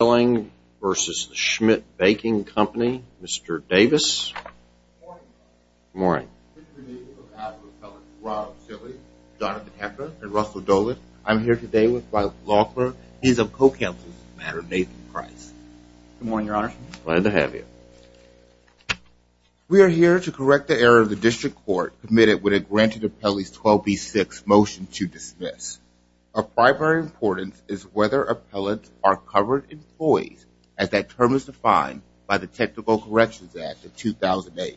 Mr. Davis. Good morning, Your Honor. Good morning. Mr. Schilling, Jr. v. Schmidt Baking Company, Inc. I'm here today with Robert Laughlin. He's a co-counsel to the matter of Nathan Price. Good morning, Your Honor. Glad to have you. We are here to correct the error of the District Court committed when it granted Appellee 12B6's motion to dismiss. Of primary importance is whether appellants are covered in FOIAs, as that term is defined by the Technical Corrections Act of 2008.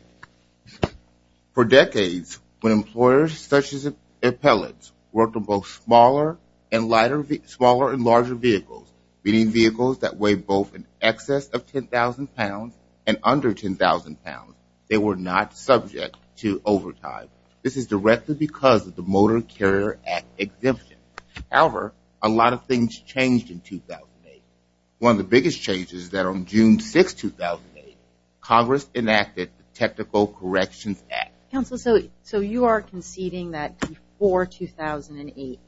For decades, when employers such as appellants worked on both smaller and larger vehicles, meaning vehicles that weighed both in excess of 10,000 pounds and under 10,000 pounds, they were not subject to overtime. This is directly because of the Motor Carrier Act exemption. However, a lot of things changed in 2008. One of the biggest changes is that on June 6, 2008, Congress enacted the Technical Corrections Act. Counsel, so you are conceding that before 2008,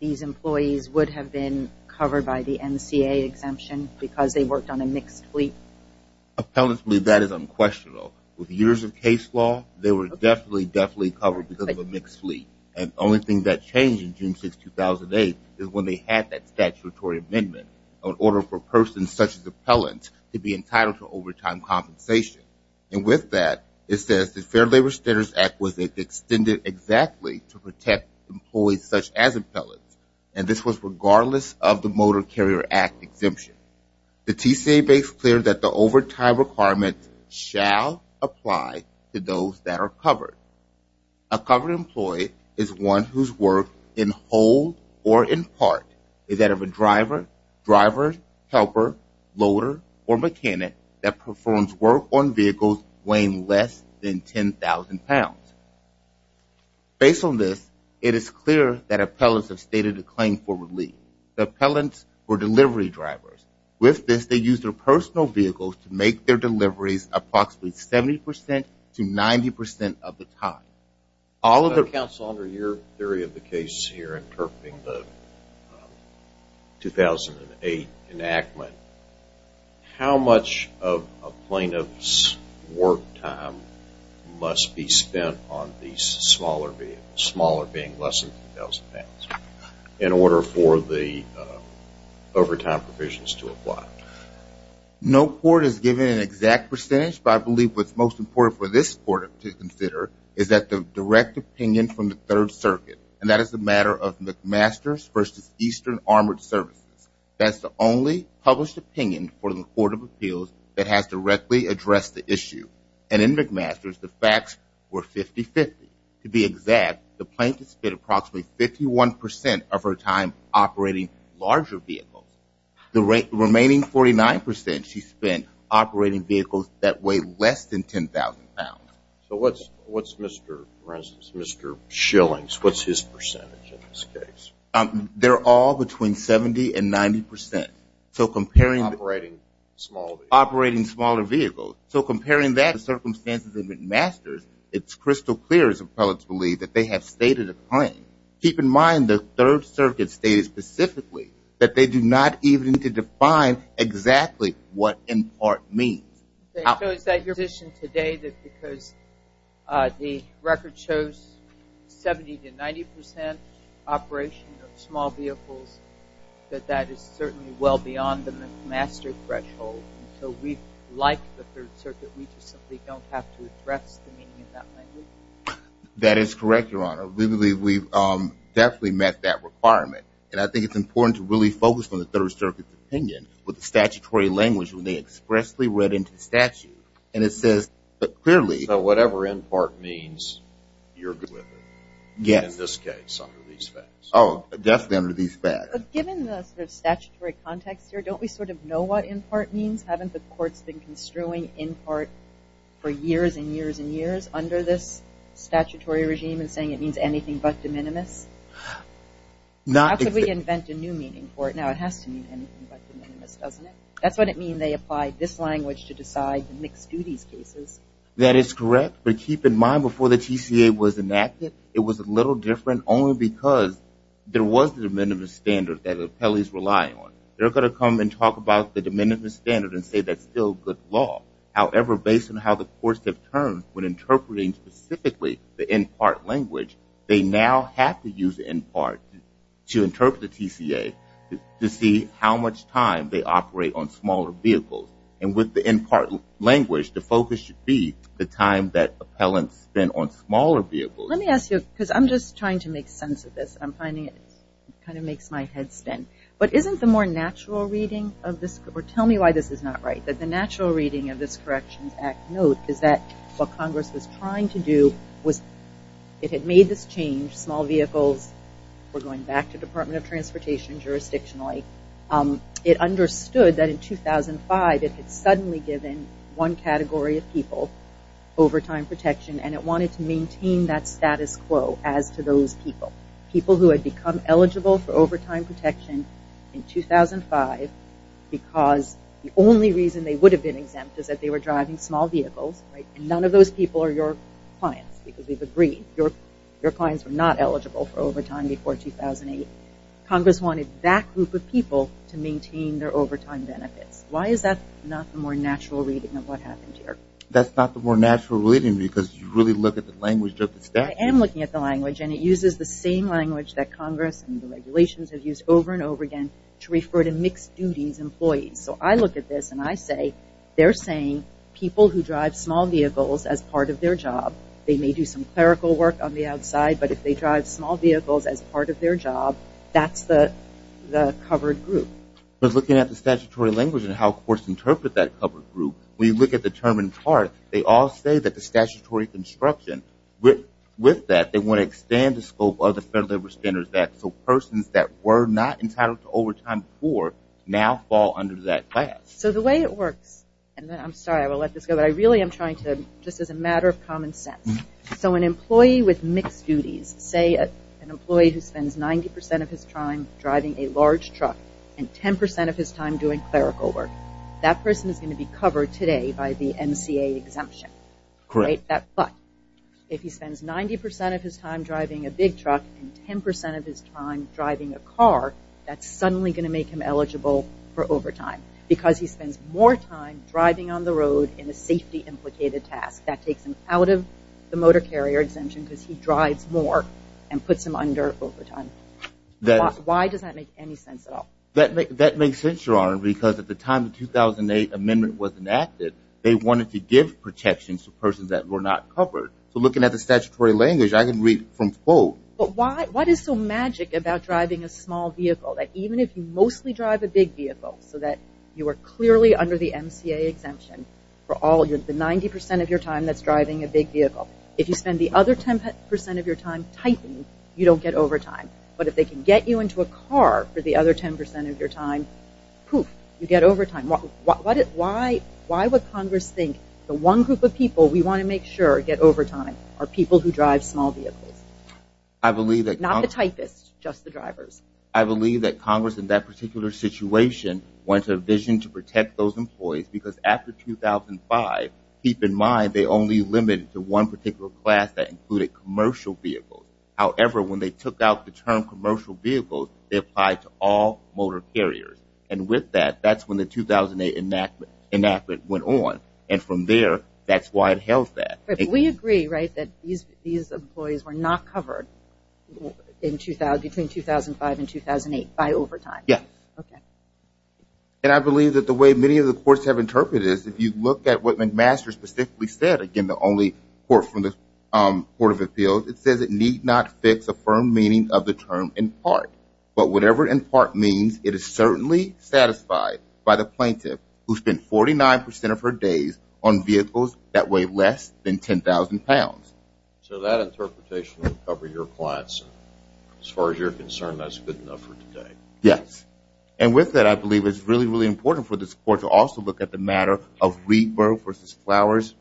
these employees would have been covered by the NCAA exemption because they worked on a mixed fleet? Appellants believe that is unquestionable. With years of case law, they were definitely, definitely covered because of a mixed fleet. And the only thing that changed in June 6, 2008 is when they had that statutory amendment on order for persons such as appellants to be entitled to overtime compensation. And with that, it says the Fair Labor Standards Act was extended exactly to protect employees such as appellants. And this was regardless of the Motor Carrier Act exemption. The TCA makes clear that the overtime requirements shall apply to those that are covered. A covered employee is one whose work in whole or in part is that of a driver, helper, loader, or mechanic that performs work on vehicles weighing less than 10,000 pounds. Based on this, it is clear that appellants have stated a claim for relief. The appellants were delivery drivers. With this, they used their personal vehicles to make their deliveries approximately 70% to 90% of the time. Counsel, under your theory of the case here, interpreting the 2008 enactment, how much of a plaintiff's work time must be spent on these smaller vehicles, smaller being less than 10,000 pounds, in order for the overtime provisions to apply? No court has given an exact percentage, but I believe what's most important for this court to consider is that the direct opinion from the Third Circuit, and that is the matter of McMaster's versus Eastern Armored Services. That's the only published opinion for the Court of Appeals that has directly addressed the issue. And in McMaster's, the facts were 50-50. To be exact, the plaintiff spent approximately 51% of her time operating larger vehicles. The remaining 49% she spent operating vehicles that weighed less than 10,000 pounds. So what's Mr. Schilling's, what's his percentage in this case? They're all between 70% and 90%. So comparing operating smaller vehicles. So comparing that to the circumstances of McMaster's, it's crystal clear, as appellants believe, that they have stated a claim. Keep in mind the Third Circuit stated specifically that they do not even need to define exactly what in part means. So is that your position today, that because the record shows 70% to 90% operation of small vehicles, that that is certainly well beyond the McMaster threshold? So we, like the Third Circuit, we just simply don't have to address the meaning in that language? That is correct, Your Honor. We believe we've definitely met that requirement. And I think it's important to really focus on the Third Circuit's opinion. With the statutory language, when they expressly read into statute, and it says clearly. So whatever in part means, you're good with it? Yes. In this case, under these facts. Oh, definitely under these facts. But given the sort of statutory context here, don't we sort of know what in part means? Haven't the courts been construing in part for years and years and years under this statutory regime and saying it means anything but de minimis? How could we invent a new meaning for it now? It has to mean anything but de minimis, doesn't it? That's what it means they applied this language to decide the mixed duties cases. That is correct. But keep in mind, before the TCA was enacted, it was a little different, only because there was the de minimis standard that the appellees relied on. They're going to come and talk about the de minimis standard and say that's still good law. However, based on how the courts have turned when interpreting specifically the in part language, they now have to use in part to interpret the TCA to see how much time they operate on smaller vehicles. And with the in part language, the focus should be the time that appellants spend on smaller vehicles. Let me ask you, because I'm just trying to make sense of this. I'm finding it kind of makes my head spin. But isn't the more natural reading of this, or tell me why this is not right, that the natural reading of this Corrections Act note is that what Congress was trying to do was it had made this change, small vehicles were going back to Department of Transportation jurisdictionally. It understood that in 2005 it had suddenly given one category of people overtime protection and it wanted to maintain that status quo as to those people, people who had become eligible for overtime protection in 2005 because the only reason they would have been exempt is that they were driving small vehicles. None of those people are your clients because we've agreed. Your clients were not eligible for overtime before 2008. Congress wanted that group of people to maintain their overtime benefits. Why is that not the more natural reading of what happened here? That's not the more natural reading because you really look at the language of the statute. I am looking at the language and it uses the same language that Congress and the regulations have used over and over again to refer to mixed duties employees. So I look at this and I say they're saying people who drive small vehicles as part of their job, they may do some clerical work on the outside, but if they drive small vehicles as part of their job, that's the covered group. Looking at the statutory language and how courts interpret that covered group, when you look at the term in part, they all say that the statutory construction, with that they want to expand the scope of the Federal Labor Standards Act so persons that were not entitled to overtime before now fall under that class. So the way it works, and I'm sorry I will let this go, but I really am trying to, just as a matter of common sense, so an employee with mixed duties, say an employee who spends 90% of his time driving a large truck and 10% of his time doing clerical work, that person is going to be covered today by the MCA exemption. Correct. But if he spends 90% of his time driving a big truck and 10% of his time driving a car, that's suddenly going to make him eligible for overtime because he spends more time driving on the road in a safety implicated task. That takes him out of the motor carrier exemption because he drives more and puts him under overtime. Why does that make any sense at all? That makes sense, Your Honor, because at the time the 2008 amendment was enacted, they wanted to give protections to persons that were not covered. So looking at the statutory language, I can read from the quote. But what is so magic about driving a small vehicle that even if you mostly drive a big vehicle so that you are clearly under the MCA exemption for all of the 90% of your time that's driving a big vehicle, if you spend the other 10% of your time tightening, you don't get overtime. But if they can get you into a car for the other 10% of your time, poof, you get overtime. Why would Congress think the one group of people we want to make sure get overtime are people who drive small vehicles? Not the typists, just the drivers. I believe that Congress in that particular situation went to a vision to protect those employees because after 2005, keep in mind they only limited to one particular class that included commercial vehicles. However, when they took out the term commercial vehicles, they applied to all motor carriers. And with that, that's when the 2008 enactment went on. And from there, that's why it held that. We agree, right, that these employees were not covered between 2005 and 2008 by overtime. Yes. Okay. And I believe that the way many of the courts have interpreted this, if you look at what McMaster specifically said, again, the only court from the Court of Appeals, it says it need not fix a firm meaning of the term in part. But whatever in part means, it is certainly satisfied by the plaintiff who spent 49% of her days on vehicles that weigh less than 10,000 pounds. So that interpretation would cover your clients. As far as you're concerned, that's good enough for today. Yes. And with that, I believe it's really, really important for this court to also look at the matter of Reedburg v. Flowers,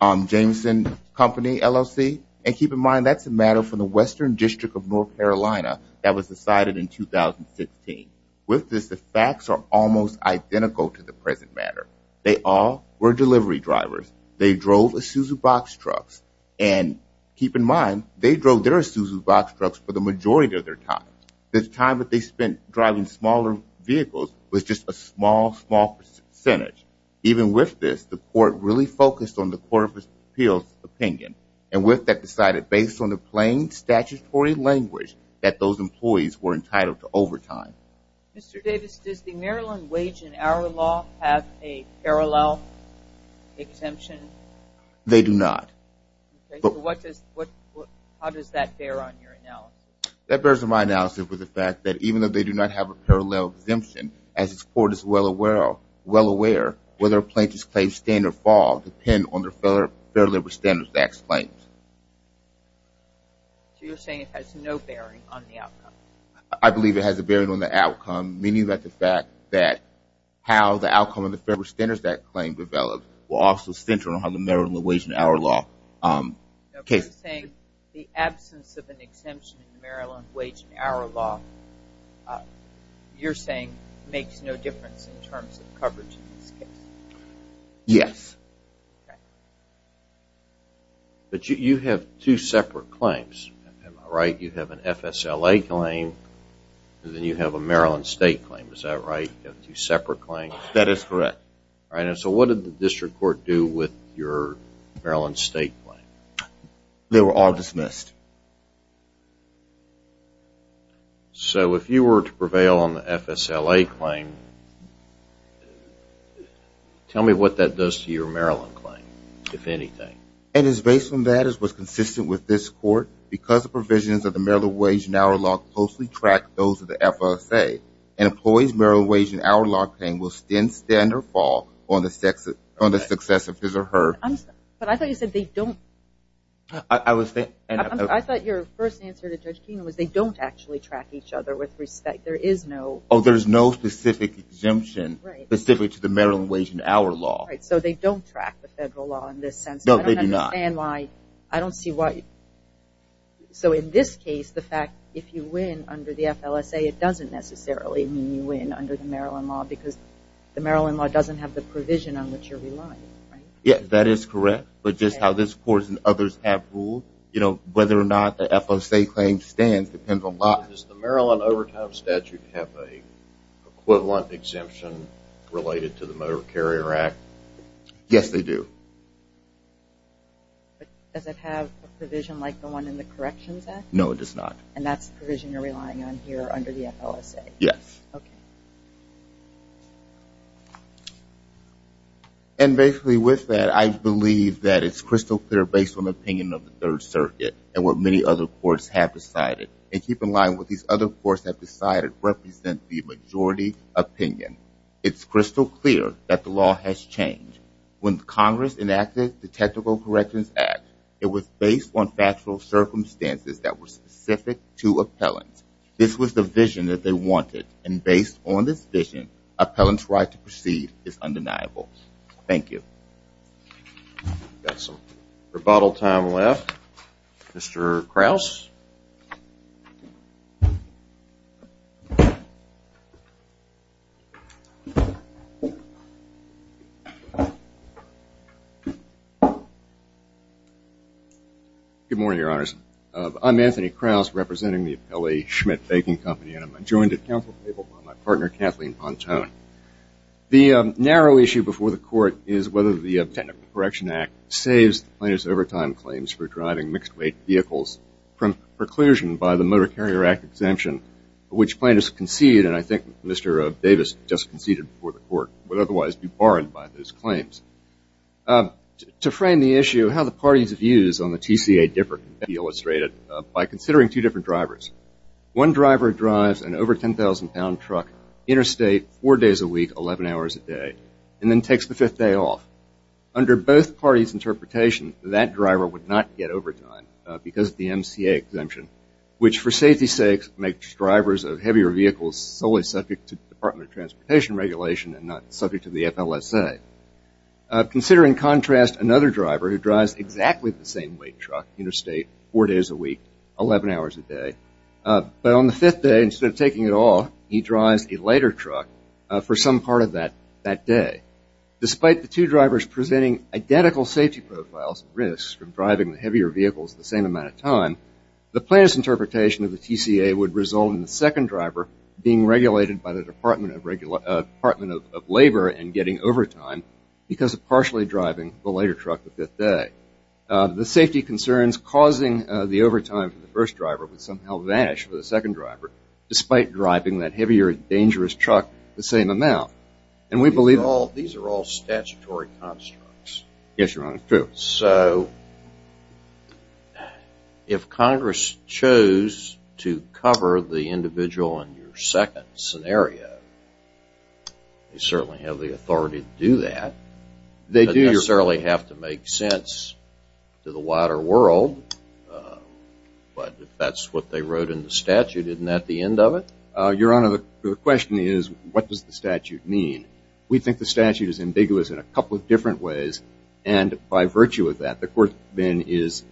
Jameson Company, LLC. And keep in mind, that's a matter from the Western District of North Carolina that was decided in 2016. With this, the facts are almost identical to the present matter. They all were delivery drivers. They drove Isuzu box trucks. And keep in mind, they drove their Isuzu box trucks for the majority of their time. The time that they spent driving smaller vehicles was just a small, small percentage. Even with this, the court really focused on the Court of Appeals' opinion. And with that, decided based on the plain statutory language that those employees were entitled to overtime. Mr. Davis, does the Maryland wage and hour law have a parallel exemption? They do not. Okay. So what does – how does that bear on your analysis? That bears on my analysis with the fact that even though they do not have a parallel exemption, as this court is well aware, whether a plaintiff's claims stand or fall depends on their Fair Labor Standards Act claims. So you're saying it has no bearing on the outcome? I believe it has a bearing on the outcome, meaning that the fact that how the outcome of the Fair Labor Standards Act claim developed will also center on how the Maryland wage and hour law case. Okay. You're saying the absence of an exemption in the Maryland wage and hour law, you're saying makes no difference in terms of coverage in this case? Yes. Okay. But you have two separate claims, am I right? You have an FSLA claim and then you have a Maryland state claim, is that right? You have two separate claims? That is correct. All right. And so what did the district court do with your Maryland state claim? They were all dismissed. So if you were to prevail on the FSLA claim, tell me what that does to your Maryland claim, if anything. It is based on that as was consistent with this court. Because the provisions of the Maryland wage and hour law closely track those of the FSA, an employee's Maryland wage and hour law claim will stand or fall on the success of his or her. But I thought you said they don't. I thought your first answer to Judge Keenan was they don't actually track each other with respect. There is no. Oh, there's no specific exemption specific to the Maryland wage and hour law. Right. So they don't track the federal law in this sense. No, they do not. I don't understand why. I don't see why. So in this case, the fact if you win under the FLSA, it doesn't necessarily mean you win under the Maryland law because the Maryland law doesn't have the provision on which you're relying, right? Yes, that is correct. But just how this court and others have ruled, you know, whether or not the FSA claim stands depends a lot. Does the Maryland overtime statute have an equivalent exemption related to the Motor Carrier Act? Yes, they do. But does it have a provision like the one in the Corrections Act? No, it does not. And that's the provision you're relying on here under the FLSA? Yes. Okay. And basically with that, I believe that it's crystal clear based on the opinion of the Third Circuit and what many other courts have decided. And keep in mind what these other courts have decided represents the majority opinion. It's crystal clear that the law has changed. When Congress enacted the Technical Corrections Act, it was based on factual circumstances that were specific to appellants. This was the vision that they wanted. And based on this vision, appellants' right to proceed is undeniable. Thank you. We've got some rebuttal time left. Mr. Krause? Good morning, Your Honors. I'm Anthony Krause, representing the Appellee Schmidt Baking Company, and I'm joined at council table by my partner Kathleen Pontone. The narrow issue before the court is whether the Technical Corrections Act saves plaintiff's overtime claims for driving mixed-weight vehicles from preclusion by the Motor Carrier Act exemption, which plaintiffs concede, and I think Mr. Davis just conceded before the court, would otherwise be barred by those claims. To frame the issue, how the parties' views on the TCA differ can be illustrated by considering two different drivers. One driver drives an over-10,000-pound truck, interstate, four days a week, 11 hours a day, and then takes the fifth day off. Under both parties' interpretation, that driver would not get overtime because of the MCA exemption, which, for safety's sakes, makes drivers of heavier vehicles solely subject to Department of Transportation regulation and not subject to the FLSA. Consider, in contrast, another driver who drives exactly the same weight truck, interstate, four days a week, 11 hours a day. But on the fifth day, instead of taking it off, he drives a lighter truck for some part of that day. Despite the two drivers presenting identical safety profiles and risks from driving the heavier vehicles the same amount of time, the plaintiff's interpretation of the TCA would result in the second driver being regulated by the Department of Labor and getting overtime because of partially driving the lighter truck the fifth day. The safety concerns causing the overtime for the first driver would somehow vanish for the second driver, despite driving that heavier, dangerous truck the same amount. These are all statutory constructs. Yes, Your Honor. It's true. So if Congress chose to cover the individual in your second scenario, they certainly have the authority to do that. They don't necessarily have to make sense to the wider world, but if that's what they wrote in the statute, isn't that the end of it? Your Honor, the question is, what does the statute mean? We think the statute is ambiguous in a couple of different ways, and by virtue of that, the Court then is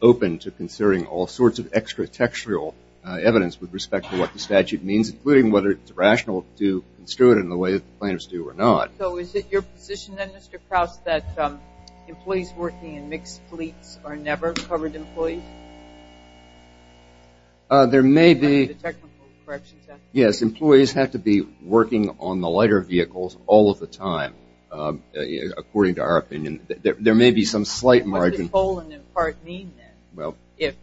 open to considering all sorts of extra-textual evidence with respect to what the statute means, including whether it's rational to construe it in the way that the plaintiffs do or not. So is it your position, then, Mr. Krause, that employees working in mixed fleets are never covered employees? There may be. Yes, employees have to be working on the lighter vehicles all of the time, according to our opinion. There may be some slight margin. What does stolen in part mean, then, if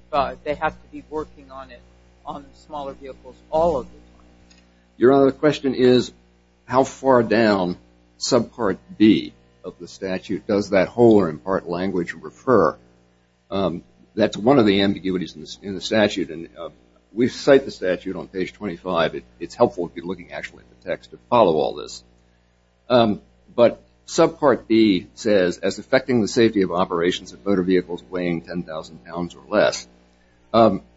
they have to be working on it on the smaller vehicles all of the time? Your Honor, the question is, how far down subpart B of the statute does that whole or in part language refer? That's one of the ambiguities in the statute, and we cite the statute on page 25. It's helpful if you're looking actually at the text to follow all this. But subpart B says, as affecting the safety of operations of motor vehicles weighing 10,000 pounds or less,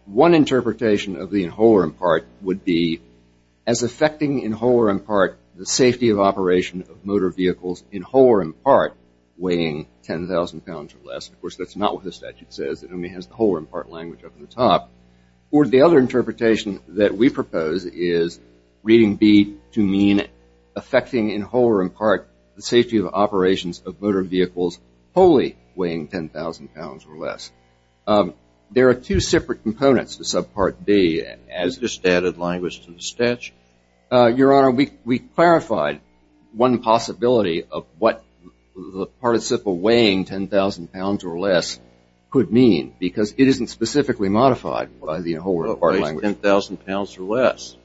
one interpretation of the whole or in part would be as affecting in whole or in part the safety of operation of motor vehicles in whole or in part weighing 10,000 pounds or less. Of course, that's not what the statute says. It only has the whole or in part language up at the top. Or the other interpretation that we propose is reading B to mean affecting in whole or in part the safety of operations of motor vehicles wholly weighing 10,000 pounds or less. There are two separate components to subpart B. Has this added language to the statute? Your Honor, we clarified one possibility of what the participle weighing 10,000 pounds or less could mean because it isn't specifically modified by the whole or in part language. It weighs 10,000 pounds or less.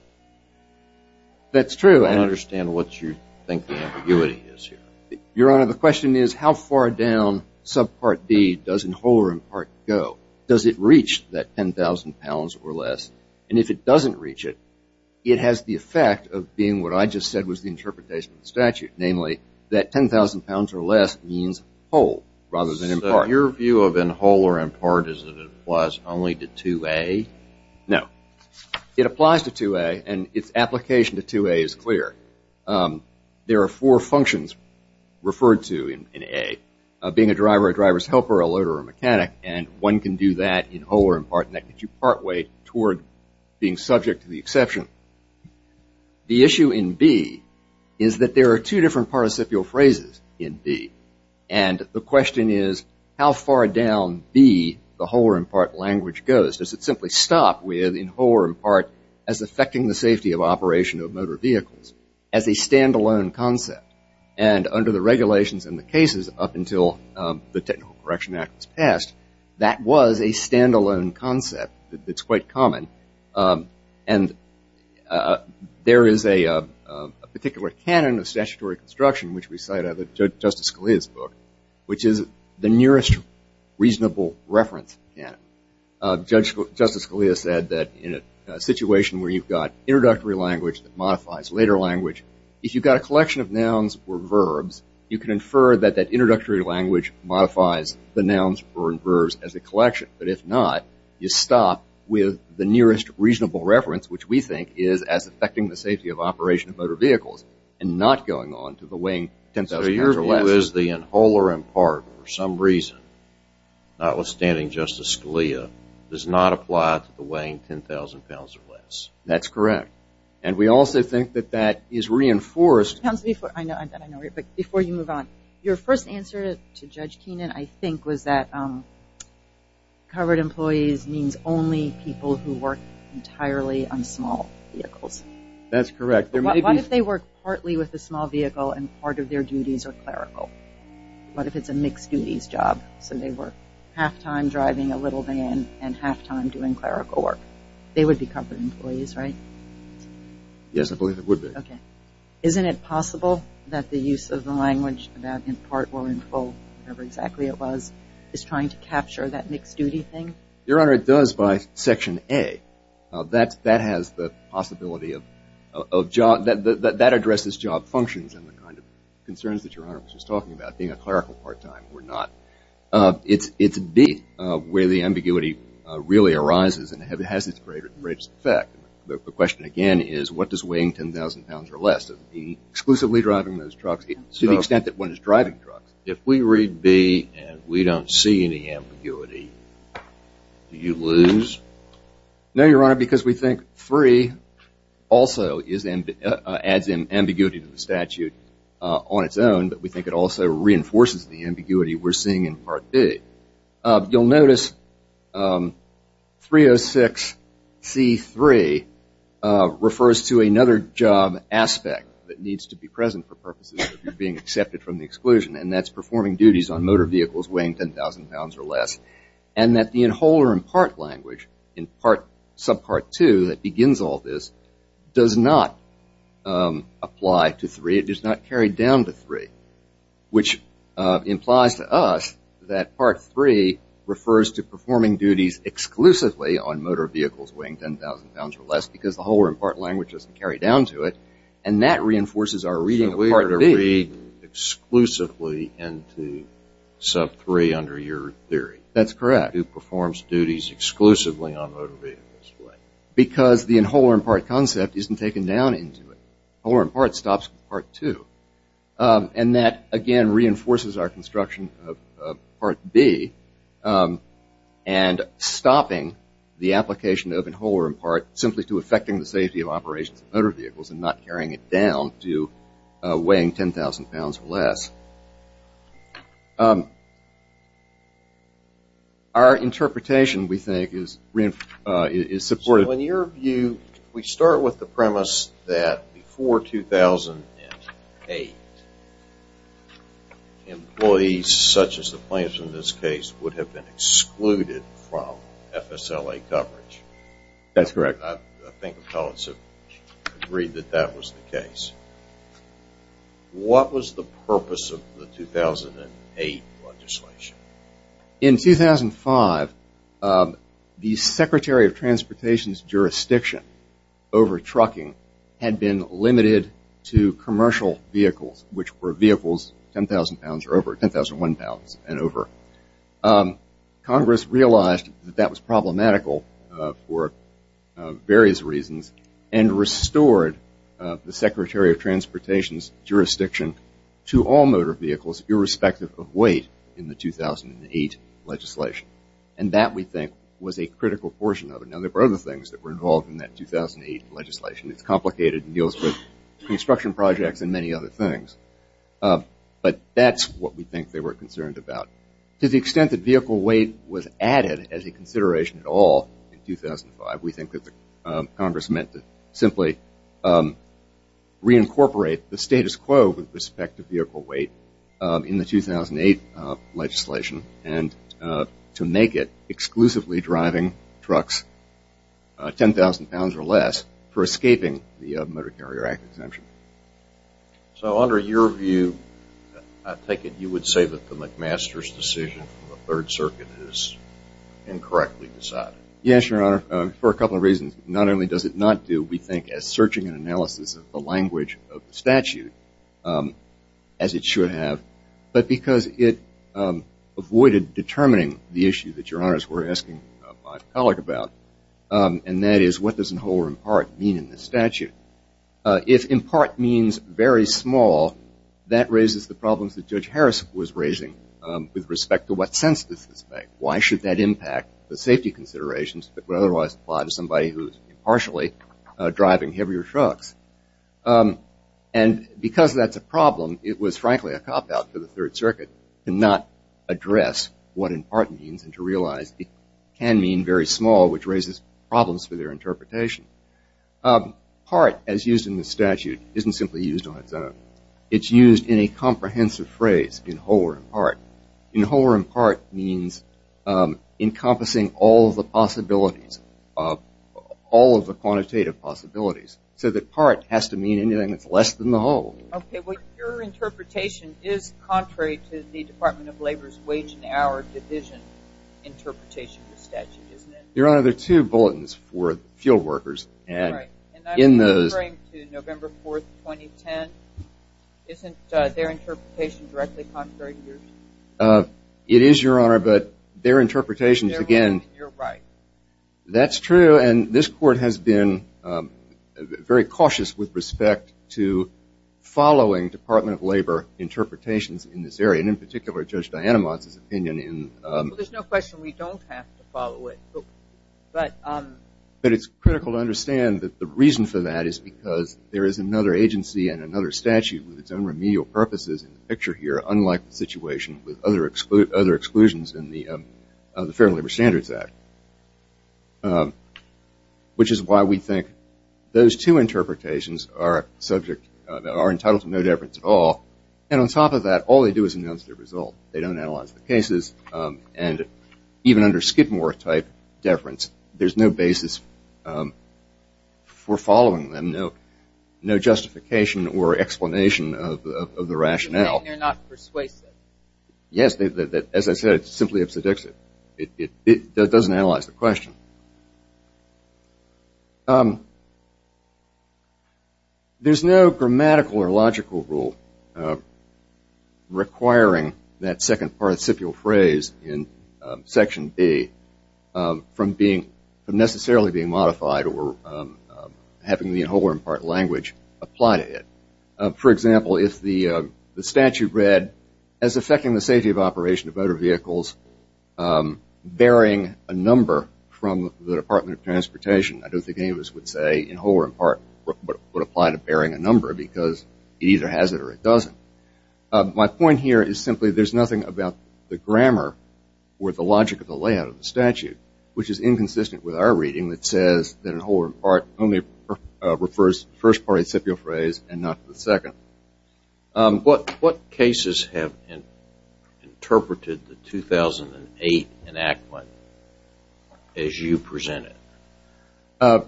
That's true. I don't understand what you think the ambiguity is here. Your Honor, the question is how far down subpart B does in whole or in part go? Does it reach that 10,000 pounds or less? And if it doesn't reach it, it has the effect of being what I just said was the interpretation of the statute, namely that 10,000 pounds or less means whole rather than in part. So your view of in whole or in part is that it applies only to 2A? No. It applies to 2A, and its application to 2A is clear. There are four functions referred to in A, being a driver, a driver's helper, a loader, or a mechanic, and one can do that in whole or in part and that gets you partway toward being subject to the exception. The issue in B is that there are two different participial phrases in B, and the question is how far down B the whole or in part language goes. Does it simply stop with in whole or in part as affecting the safety of operation of motor vehicles as a stand-alone concept? And under the regulations and the cases up until the Technical Correction Act was passed, that was a stand-alone concept that's quite common. And there is a particular canon of statutory construction, which we cite out of Justice Scalia's book, which is the nearest reasonable reference canon. Justice Scalia said that in a situation where you've got introductory language that modifies later language, if you've got a collection of nouns or verbs, you can infer that that introductory language modifies the nouns or verbs as a collection. But if not, you stop with the nearest reasonable reference, which we think is as affecting the safety of operation of motor vehicles and not going on to the weighing 10,000 pounds or less. So is the in whole or in part for some reason, notwithstanding Justice Scalia, does not apply to the weighing 10,000 pounds or less. That's correct. And we also think that that is reinforced. Before you move on, your first answer to Judge Keenan, I think, was that covered employees means only people who work entirely on small vehicles. That's correct. What if they work partly with a small vehicle and part of their duties are clerical? What if it's a mixed duties job? So they work half time driving a little van and half time doing clerical work. They would be covered employees, right? Yes, I believe it would be. Okay. Isn't it possible that the use of the language, that in part or in full, whatever exactly it was, is trying to capture that mixed duty thing? Your Honor, it does by Section A. That has the possibility of job. That addresses job functions and the kind of concerns that Your Honor was just talking about, being a clerical part time or not. It's B where the ambiguity really arises and has its greatest effect. The question again is what does weighing 10,000 pounds or less, the exclusively driving those trucks to the extent that one is driving trucks. If we read B and we don't see any ambiguity, do you lose? No, Your Honor, because we think 3 also adds ambiguity to the statute on its own, but we think it also reinforces the ambiguity we're seeing in Part B. You'll notice 306C3 refers to another job aspect that needs to be present for purposes of being accepted from the exclusion, and that's performing duties on motor vehicles weighing 10,000 pounds or less, and that the whole or in part language in Subpart 2 that begins all this does not apply to 3. It does not carry down to 3, which implies to us that Part 3 refers to performing duties exclusively on motor vehicles weighing 10,000 pounds or less because the whole or in part language doesn't carry down to it, and that reinforces our reading of Part B. So we are reading exclusively into Sub 3 under your theory. That's correct. Who performs duties exclusively on motor vehicles. Because the whole or in part concept isn't taken down into it. Whole or in part stops Part 2, and that again reinforces our construction of Part B and stopping the application of whole or in part simply to affecting the safety of operations of motor vehicles and not carrying it down to weighing 10,000 pounds or less. Our interpretation, we think, is supportive. So in your view, we start with the premise that before 2008, employees such as the plaintiffs in this case would have been excluded from FSLA coverage. That's correct. I think appellants have agreed that that was the case. What was the purpose of the 2008 legislation? In 2005, the Secretary of Transportation's jurisdiction over trucking had been limited to commercial vehicles, which were vehicles 10,000 pounds or over, 10,001 pounds and over. Congress realized that that was problematical for various reasons and restored the Secretary of Transportation's jurisdiction to all motor vehicles, irrespective of weight, in the 2008 legislation. And that, we think, was a critical portion of it. Now, there were other things that were involved in that 2008 legislation. It's complicated and deals with construction projects and many other things. But that's what we think they were concerned about. To the extent that vehicle weight was added as a consideration at all in 2005, we think that Congress meant to simply reincorporate the status quo with respect to vehicle weight in the 2008 legislation and to make it exclusively driving trucks 10,000 pounds or less for escaping the Motor Carrier Act exemption. So under your view, I take it you would say that the McMaster's decision from the Third Circuit is incorrectly decided? Yes, Your Honor, for a couple of reasons. Not only does it not do, we think, as searching and analysis of the language of the statute as it should have, but because it avoided determining the issue that Your Honors were asking my colleague about, and that is what does the whole or in part mean in the statute? If in part means very small, that raises the problems that Judge Harris was raising with respect to what sense does this make? Why should that impact the safety considerations that would otherwise apply to somebody who is impartially driving heavier trucks? And because that's a problem, it was frankly a cop-out for the Third Circuit to not address what in part means and to realize it can mean very small, which raises problems for their interpretation. Part, as used in the statute, isn't simply used on its own. It's used in a comprehensive phrase, in whole or in part. In whole or in part means encompassing all of the possibilities, all of the quantitative possibilities, so that part has to mean anything that's less than the whole. Okay, but your interpretation is contrary to the Department of Labor's wage and hour division interpretation of the statute, isn't it? Your Honor, there are two bulletins for fuel workers. And I'm referring to November 4th, 2010. Isn't their interpretation directly contrary to yours? It is, Your Honor, but their interpretations, again, that's true, and this Court has been very cautious with respect to following Department of Labor interpretations in this area, and in particular, Judge Dianamant's opinion. Well, there's no question we don't have to follow it. But it's critical to understand that the reason for that is because there is another agency and another statute with its own remedial purposes in the picture here, unlike the situation with other exclusions in the Fair Labor Standards Act, which is why we think those two interpretations are entitled to no deference at all. And on top of that, all they do is announce their result. They don't analyze the cases. And even under Skidmore-type deference, there's no basis for following them, no justification or explanation of the rationale. You're saying they're not persuasive. Yes. As I said, it simply upsets it. It doesn't analyze the question. There's no grammatical or logical rule requiring that second participial phrase in Section B from necessarily being modified or having the whole or in part language apply to it. For example, if the statute read, as affecting the safety of operation of motor vehicles, bearing a number from the Department of Transportation, I don't think any of us would say in whole or in part would apply to bearing a number because it either has it or it doesn't. My point here is simply there's nothing about the grammar or the logic of the layout of the statute, which is inconsistent with our reading that says that in whole or in part only refers to the first participial phrase and not the second. What cases have interpreted the 2008 enactment as you present it?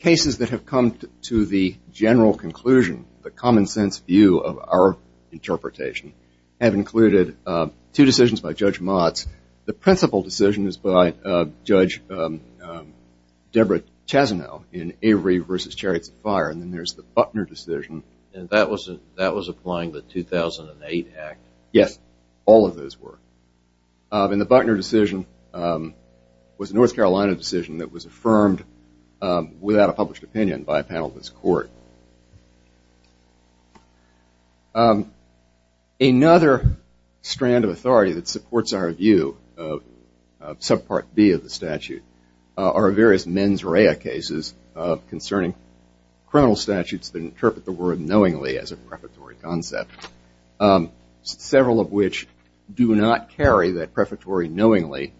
Cases that have come to the general conclusion, the common sense view of our interpretation, have included two decisions by Judge Motz. The principal decision is by Judge Deborah Chazanel in Avery v. Chariots of Fire, and then there's the Buckner decision. And that was applying the 2008 act? Yes, all of those were. And the Buckner decision was a North Carolina decision that was affirmed without a published opinion by a panel of this court. Another strand of authority that supports our view of Subpart B of the statute are various mens rea cases concerning criminal statutes that interpret the word knowingly as a prefatory concept, several of which do not carry that prefatory knowingly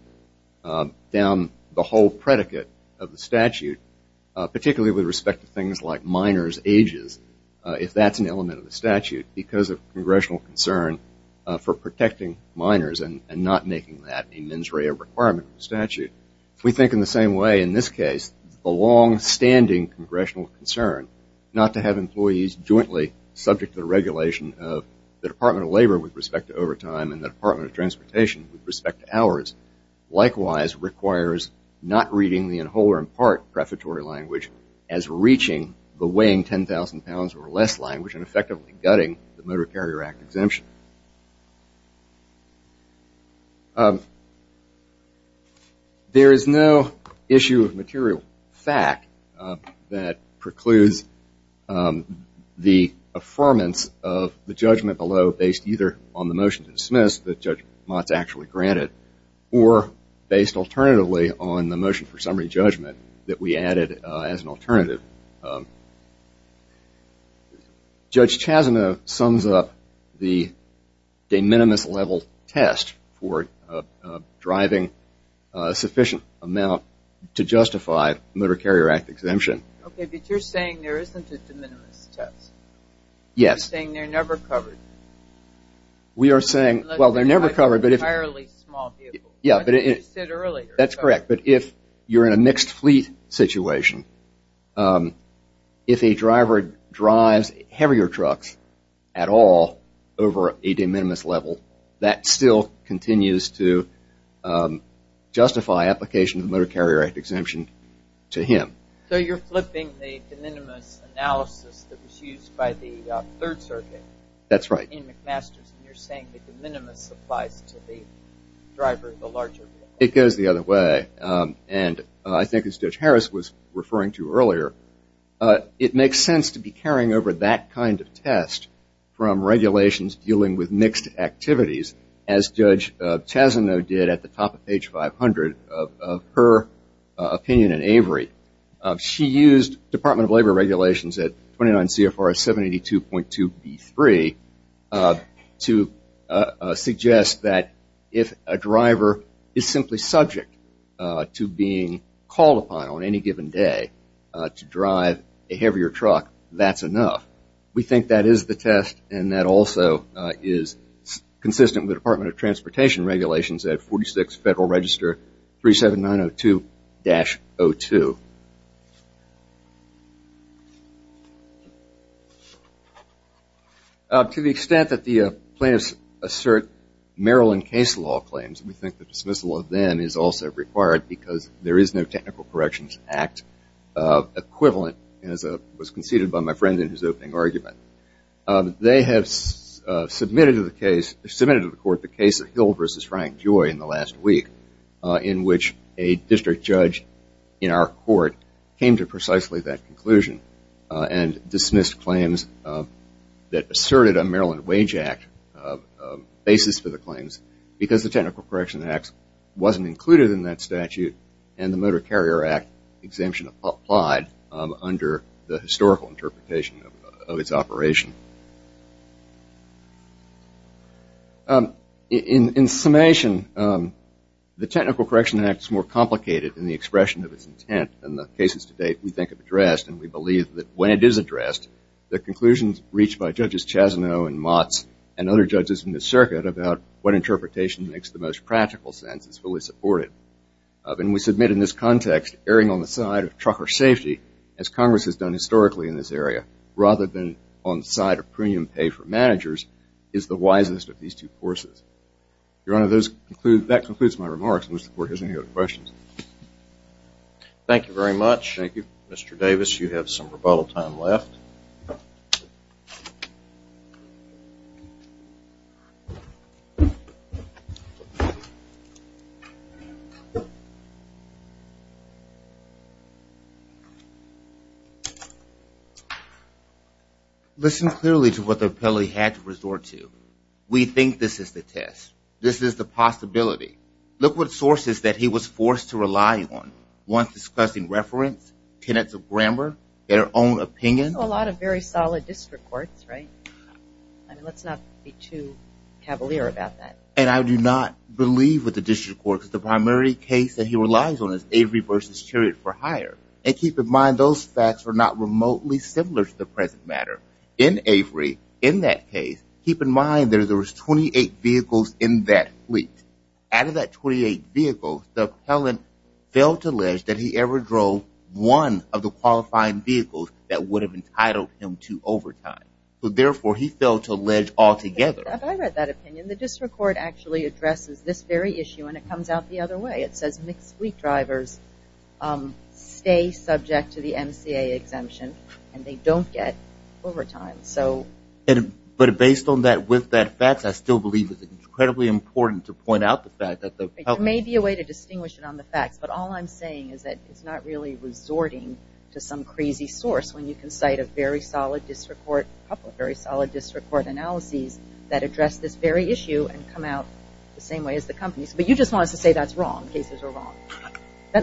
down the whole predicate of the statute, particularly with respect to things like minors' ages, if that's an element of the statute, because of congressional concern for protecting minors and not making that a mens rea requirement of the statute. We think in the same way in this case. The longstanding congressional concern not to have employees jointly subject to the regulation of the Department of Labor with respect to overtime and the Department of Transportation with respect to hours likewise requires not reading the whole or in part prefatory language as reaching the weighing 10,000 pounds or less language and effectively gutting the Motor Carrier Act exemption. There is no issue of material fact that precludes the affirmance of the judgment below based either on the motion to dismiss that Judge Motz actually granted or based alternatively on the motion for summary judgment that we added as an alternative. Judge Chazana sums up the de minimis level test for driving sufficient amount to justify Motor Carrier Act exemption. Okay, but you're saying there isn't a de minimis test. Yes. You're saying they're never covered. We are saying, well, they're never covered. That's correct, but if you're in a mixed fleet situation, if a driver drives heavier trucks at all over a de minimis level, that still continues to justify application of the Motor Carrier Act exemption to him. So you're flipping the de minimis analysis that was used by the Third Circuit. That's right. In McMaster's, and you're saying that the minimis applies to the driver, the larger vehicle. It goes the other way, and I think as Judge Harris was referring to earlier, it makes sense to be carrying over that kind of test from regulations dealing with mixed activities as Judge Chazano did at the top of page 500 of her opinion in Avery. She used Department of Labor regulations at 29 CFR 782.2B3 to suggest that if a driver is simply subject to being called upon on any given day to drive a heavier truck, that's enough. We think that is the test, and that also is consistent with Department of Transportation regulations at 46 Federal Register 37902-02. To the extent that the plaintiffs assert Maryland case law claims, we think the dismissal of them is also required because there is no Technical Corrections Act equivalent, as was conceded by my friend in his opening argument. They have submitted to the court the case of Hill v. Frank Joy in the last week, in which a district judge in our court came to precisely that conclusion and dismissed claims that asserted a Maryland Wage Act basis for the claims because the Technical Correction Act wasn't included in that statute, and the Motor Carrier Act exemption applied under the historical interpretation of its operation. In summation, the Technical Correction Act is more complicated in the expression of its intent than the cases to date we think have addressed, and we believe that when it is addressed, the conclusions reached by Judges Chazano and Motz and other judges in the circuit about what interpretation makes the most practical sense is fully supported. And we submit in this context, erring on the side of trucker safety, as Congress has done historically in this area, rather than on the side of premium pay for managers, is the wisest of these two courses. Your Honor, that concludes my remarks. I wish the court has any other questions. Thank you very much. Thank you, Mr. Davis. You have some rebuttal time left. Thank you. Listen clearly to what the appellee had to resort to. We think this is the test. This is the possibility. Look what sources that he was forced to rely on, ones discussing reference, tenets of grammar, their own opinion. A lot of very solid district courts, right? Let's not be too cavalier about that. And I do not believe that the district court is the primary case that he relies on is Avery v. Chariot for hire. And keep in mind, those facts are not remotely similar to the present matter. In Avery, in that case, keep in mind that there was 28 vehicles in that fleet. Out of that 28 vehicles, the appellant failed to allege that he ever drove one of the qualifying vehicles that would have entitled him to overtime. Therefore, he failed to allege altogether. I read that opinion. The district court actually addresses this very issue, and it comes out the other way. It says mixed fleet drivers stay subject to the MCA exemption, and they don't get overtime. But based on that, with that fact, I still believe it's incredibly important to point out the fact that the There may be a way to distinguish it on the facts, but all I'm saying is that it's not really resorting to some crazy source when you can cite a very solid district court analysis that address this very issue and come out the same way as the companies. But you just wanted to say that's wrong, cases are wrong,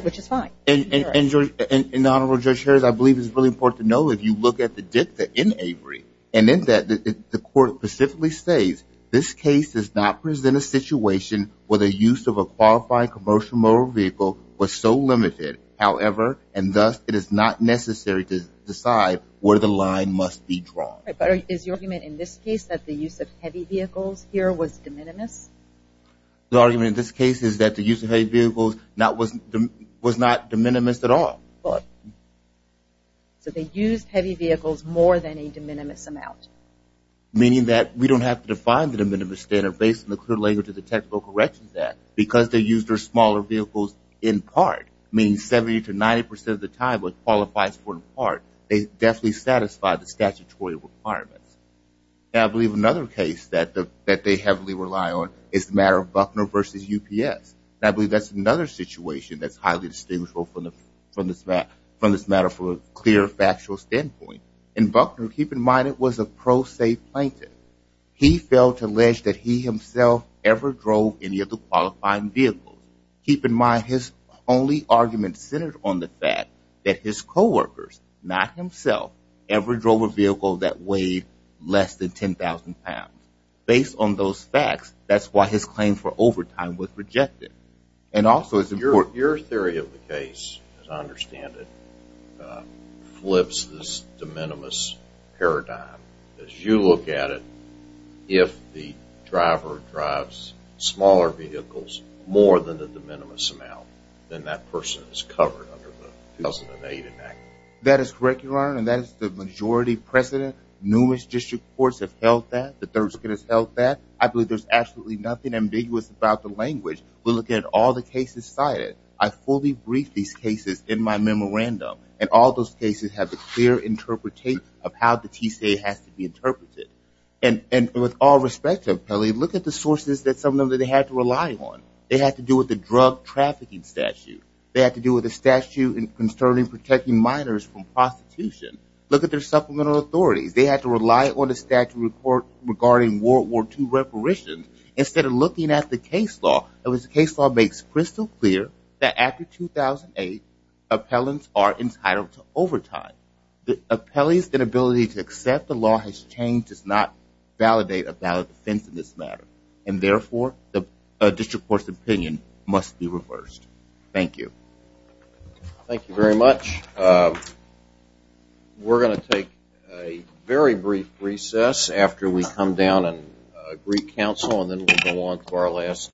which is fine. And, Honorable Judge Harris, I believe it's really important to know, if you look at the dicta in Avery, and in that, the court specifically states, this case does not present a situation where the use of a qualified commercial motor vehicle was so limited. However, and thus, it is not necessary to decide where the line must be drawn. But is your argument in this case that the use of heavy vehicles here was de minimis? The argument in this case is that the use of heavy vehicles was not de minimis at all. So they used heavy vehicles more than a de minimis amount. Meaning that we don't have to define the de minimis standard based on the clear language of the Technical Corrections Act because they used their smaller vehicles in part. Meaning 70 to 90% of the time, what qualifies for in part, they definitely satisfy the statutory requirements. And I believe another case that they heavily rely on is the matter of Buckner v. UPS. And I believe that's another situation that's highly distinguishable from this matter from a clear factual standpoint. In Buckner, keep in mind, it was a pro se plaintiff. He failed to allege that he himself ever drove any of the qualifying vehicles. Keep in mind, his only argument centered on the fact that his co-workers, not himself, ever drove a vehicle that weighed less than 10,000 pounds. Based on those facts, that's why his claim for overtime was rejected. And also it's important... Your theory of the case, as I understand it, flips this de minimis paradigm. As you look at it, if the driver drives smaller vehicles, more than the de minimis amount, then that person is covered under the 2008 enactment. That is correct, Your Honor. And that is the majority precedent. Numerous district courts have held that. The Third Circuit has held that. I believe there's absolutely nothing ambiguous about the language. We look at all the cases cited. I fully brief these cases in my memorandum. And all those cases have a clear interpretation of how the TCA has to be interpreted. And with all respect to appellees, look at the sources that some of them had to rely on. They had to do with the drug trafficking statute. They had to do with the statute concerning protecting minors from prostitution. Look at their supplemental authorities. They had to rely on a statute report regarding World War II reparations. Instead of looking at the case law, the case law makes crystal clear that after 2008, appellants are entitled to overtime. The appellee's inability to accept the law has changed, does not validate a valid defense in this matter. And, therefore, the district court's opinion must be reversed. Thank you. Thank you very much. We're going to take a very brief recess after we come down and greet counsel, and then we'll go on to our last.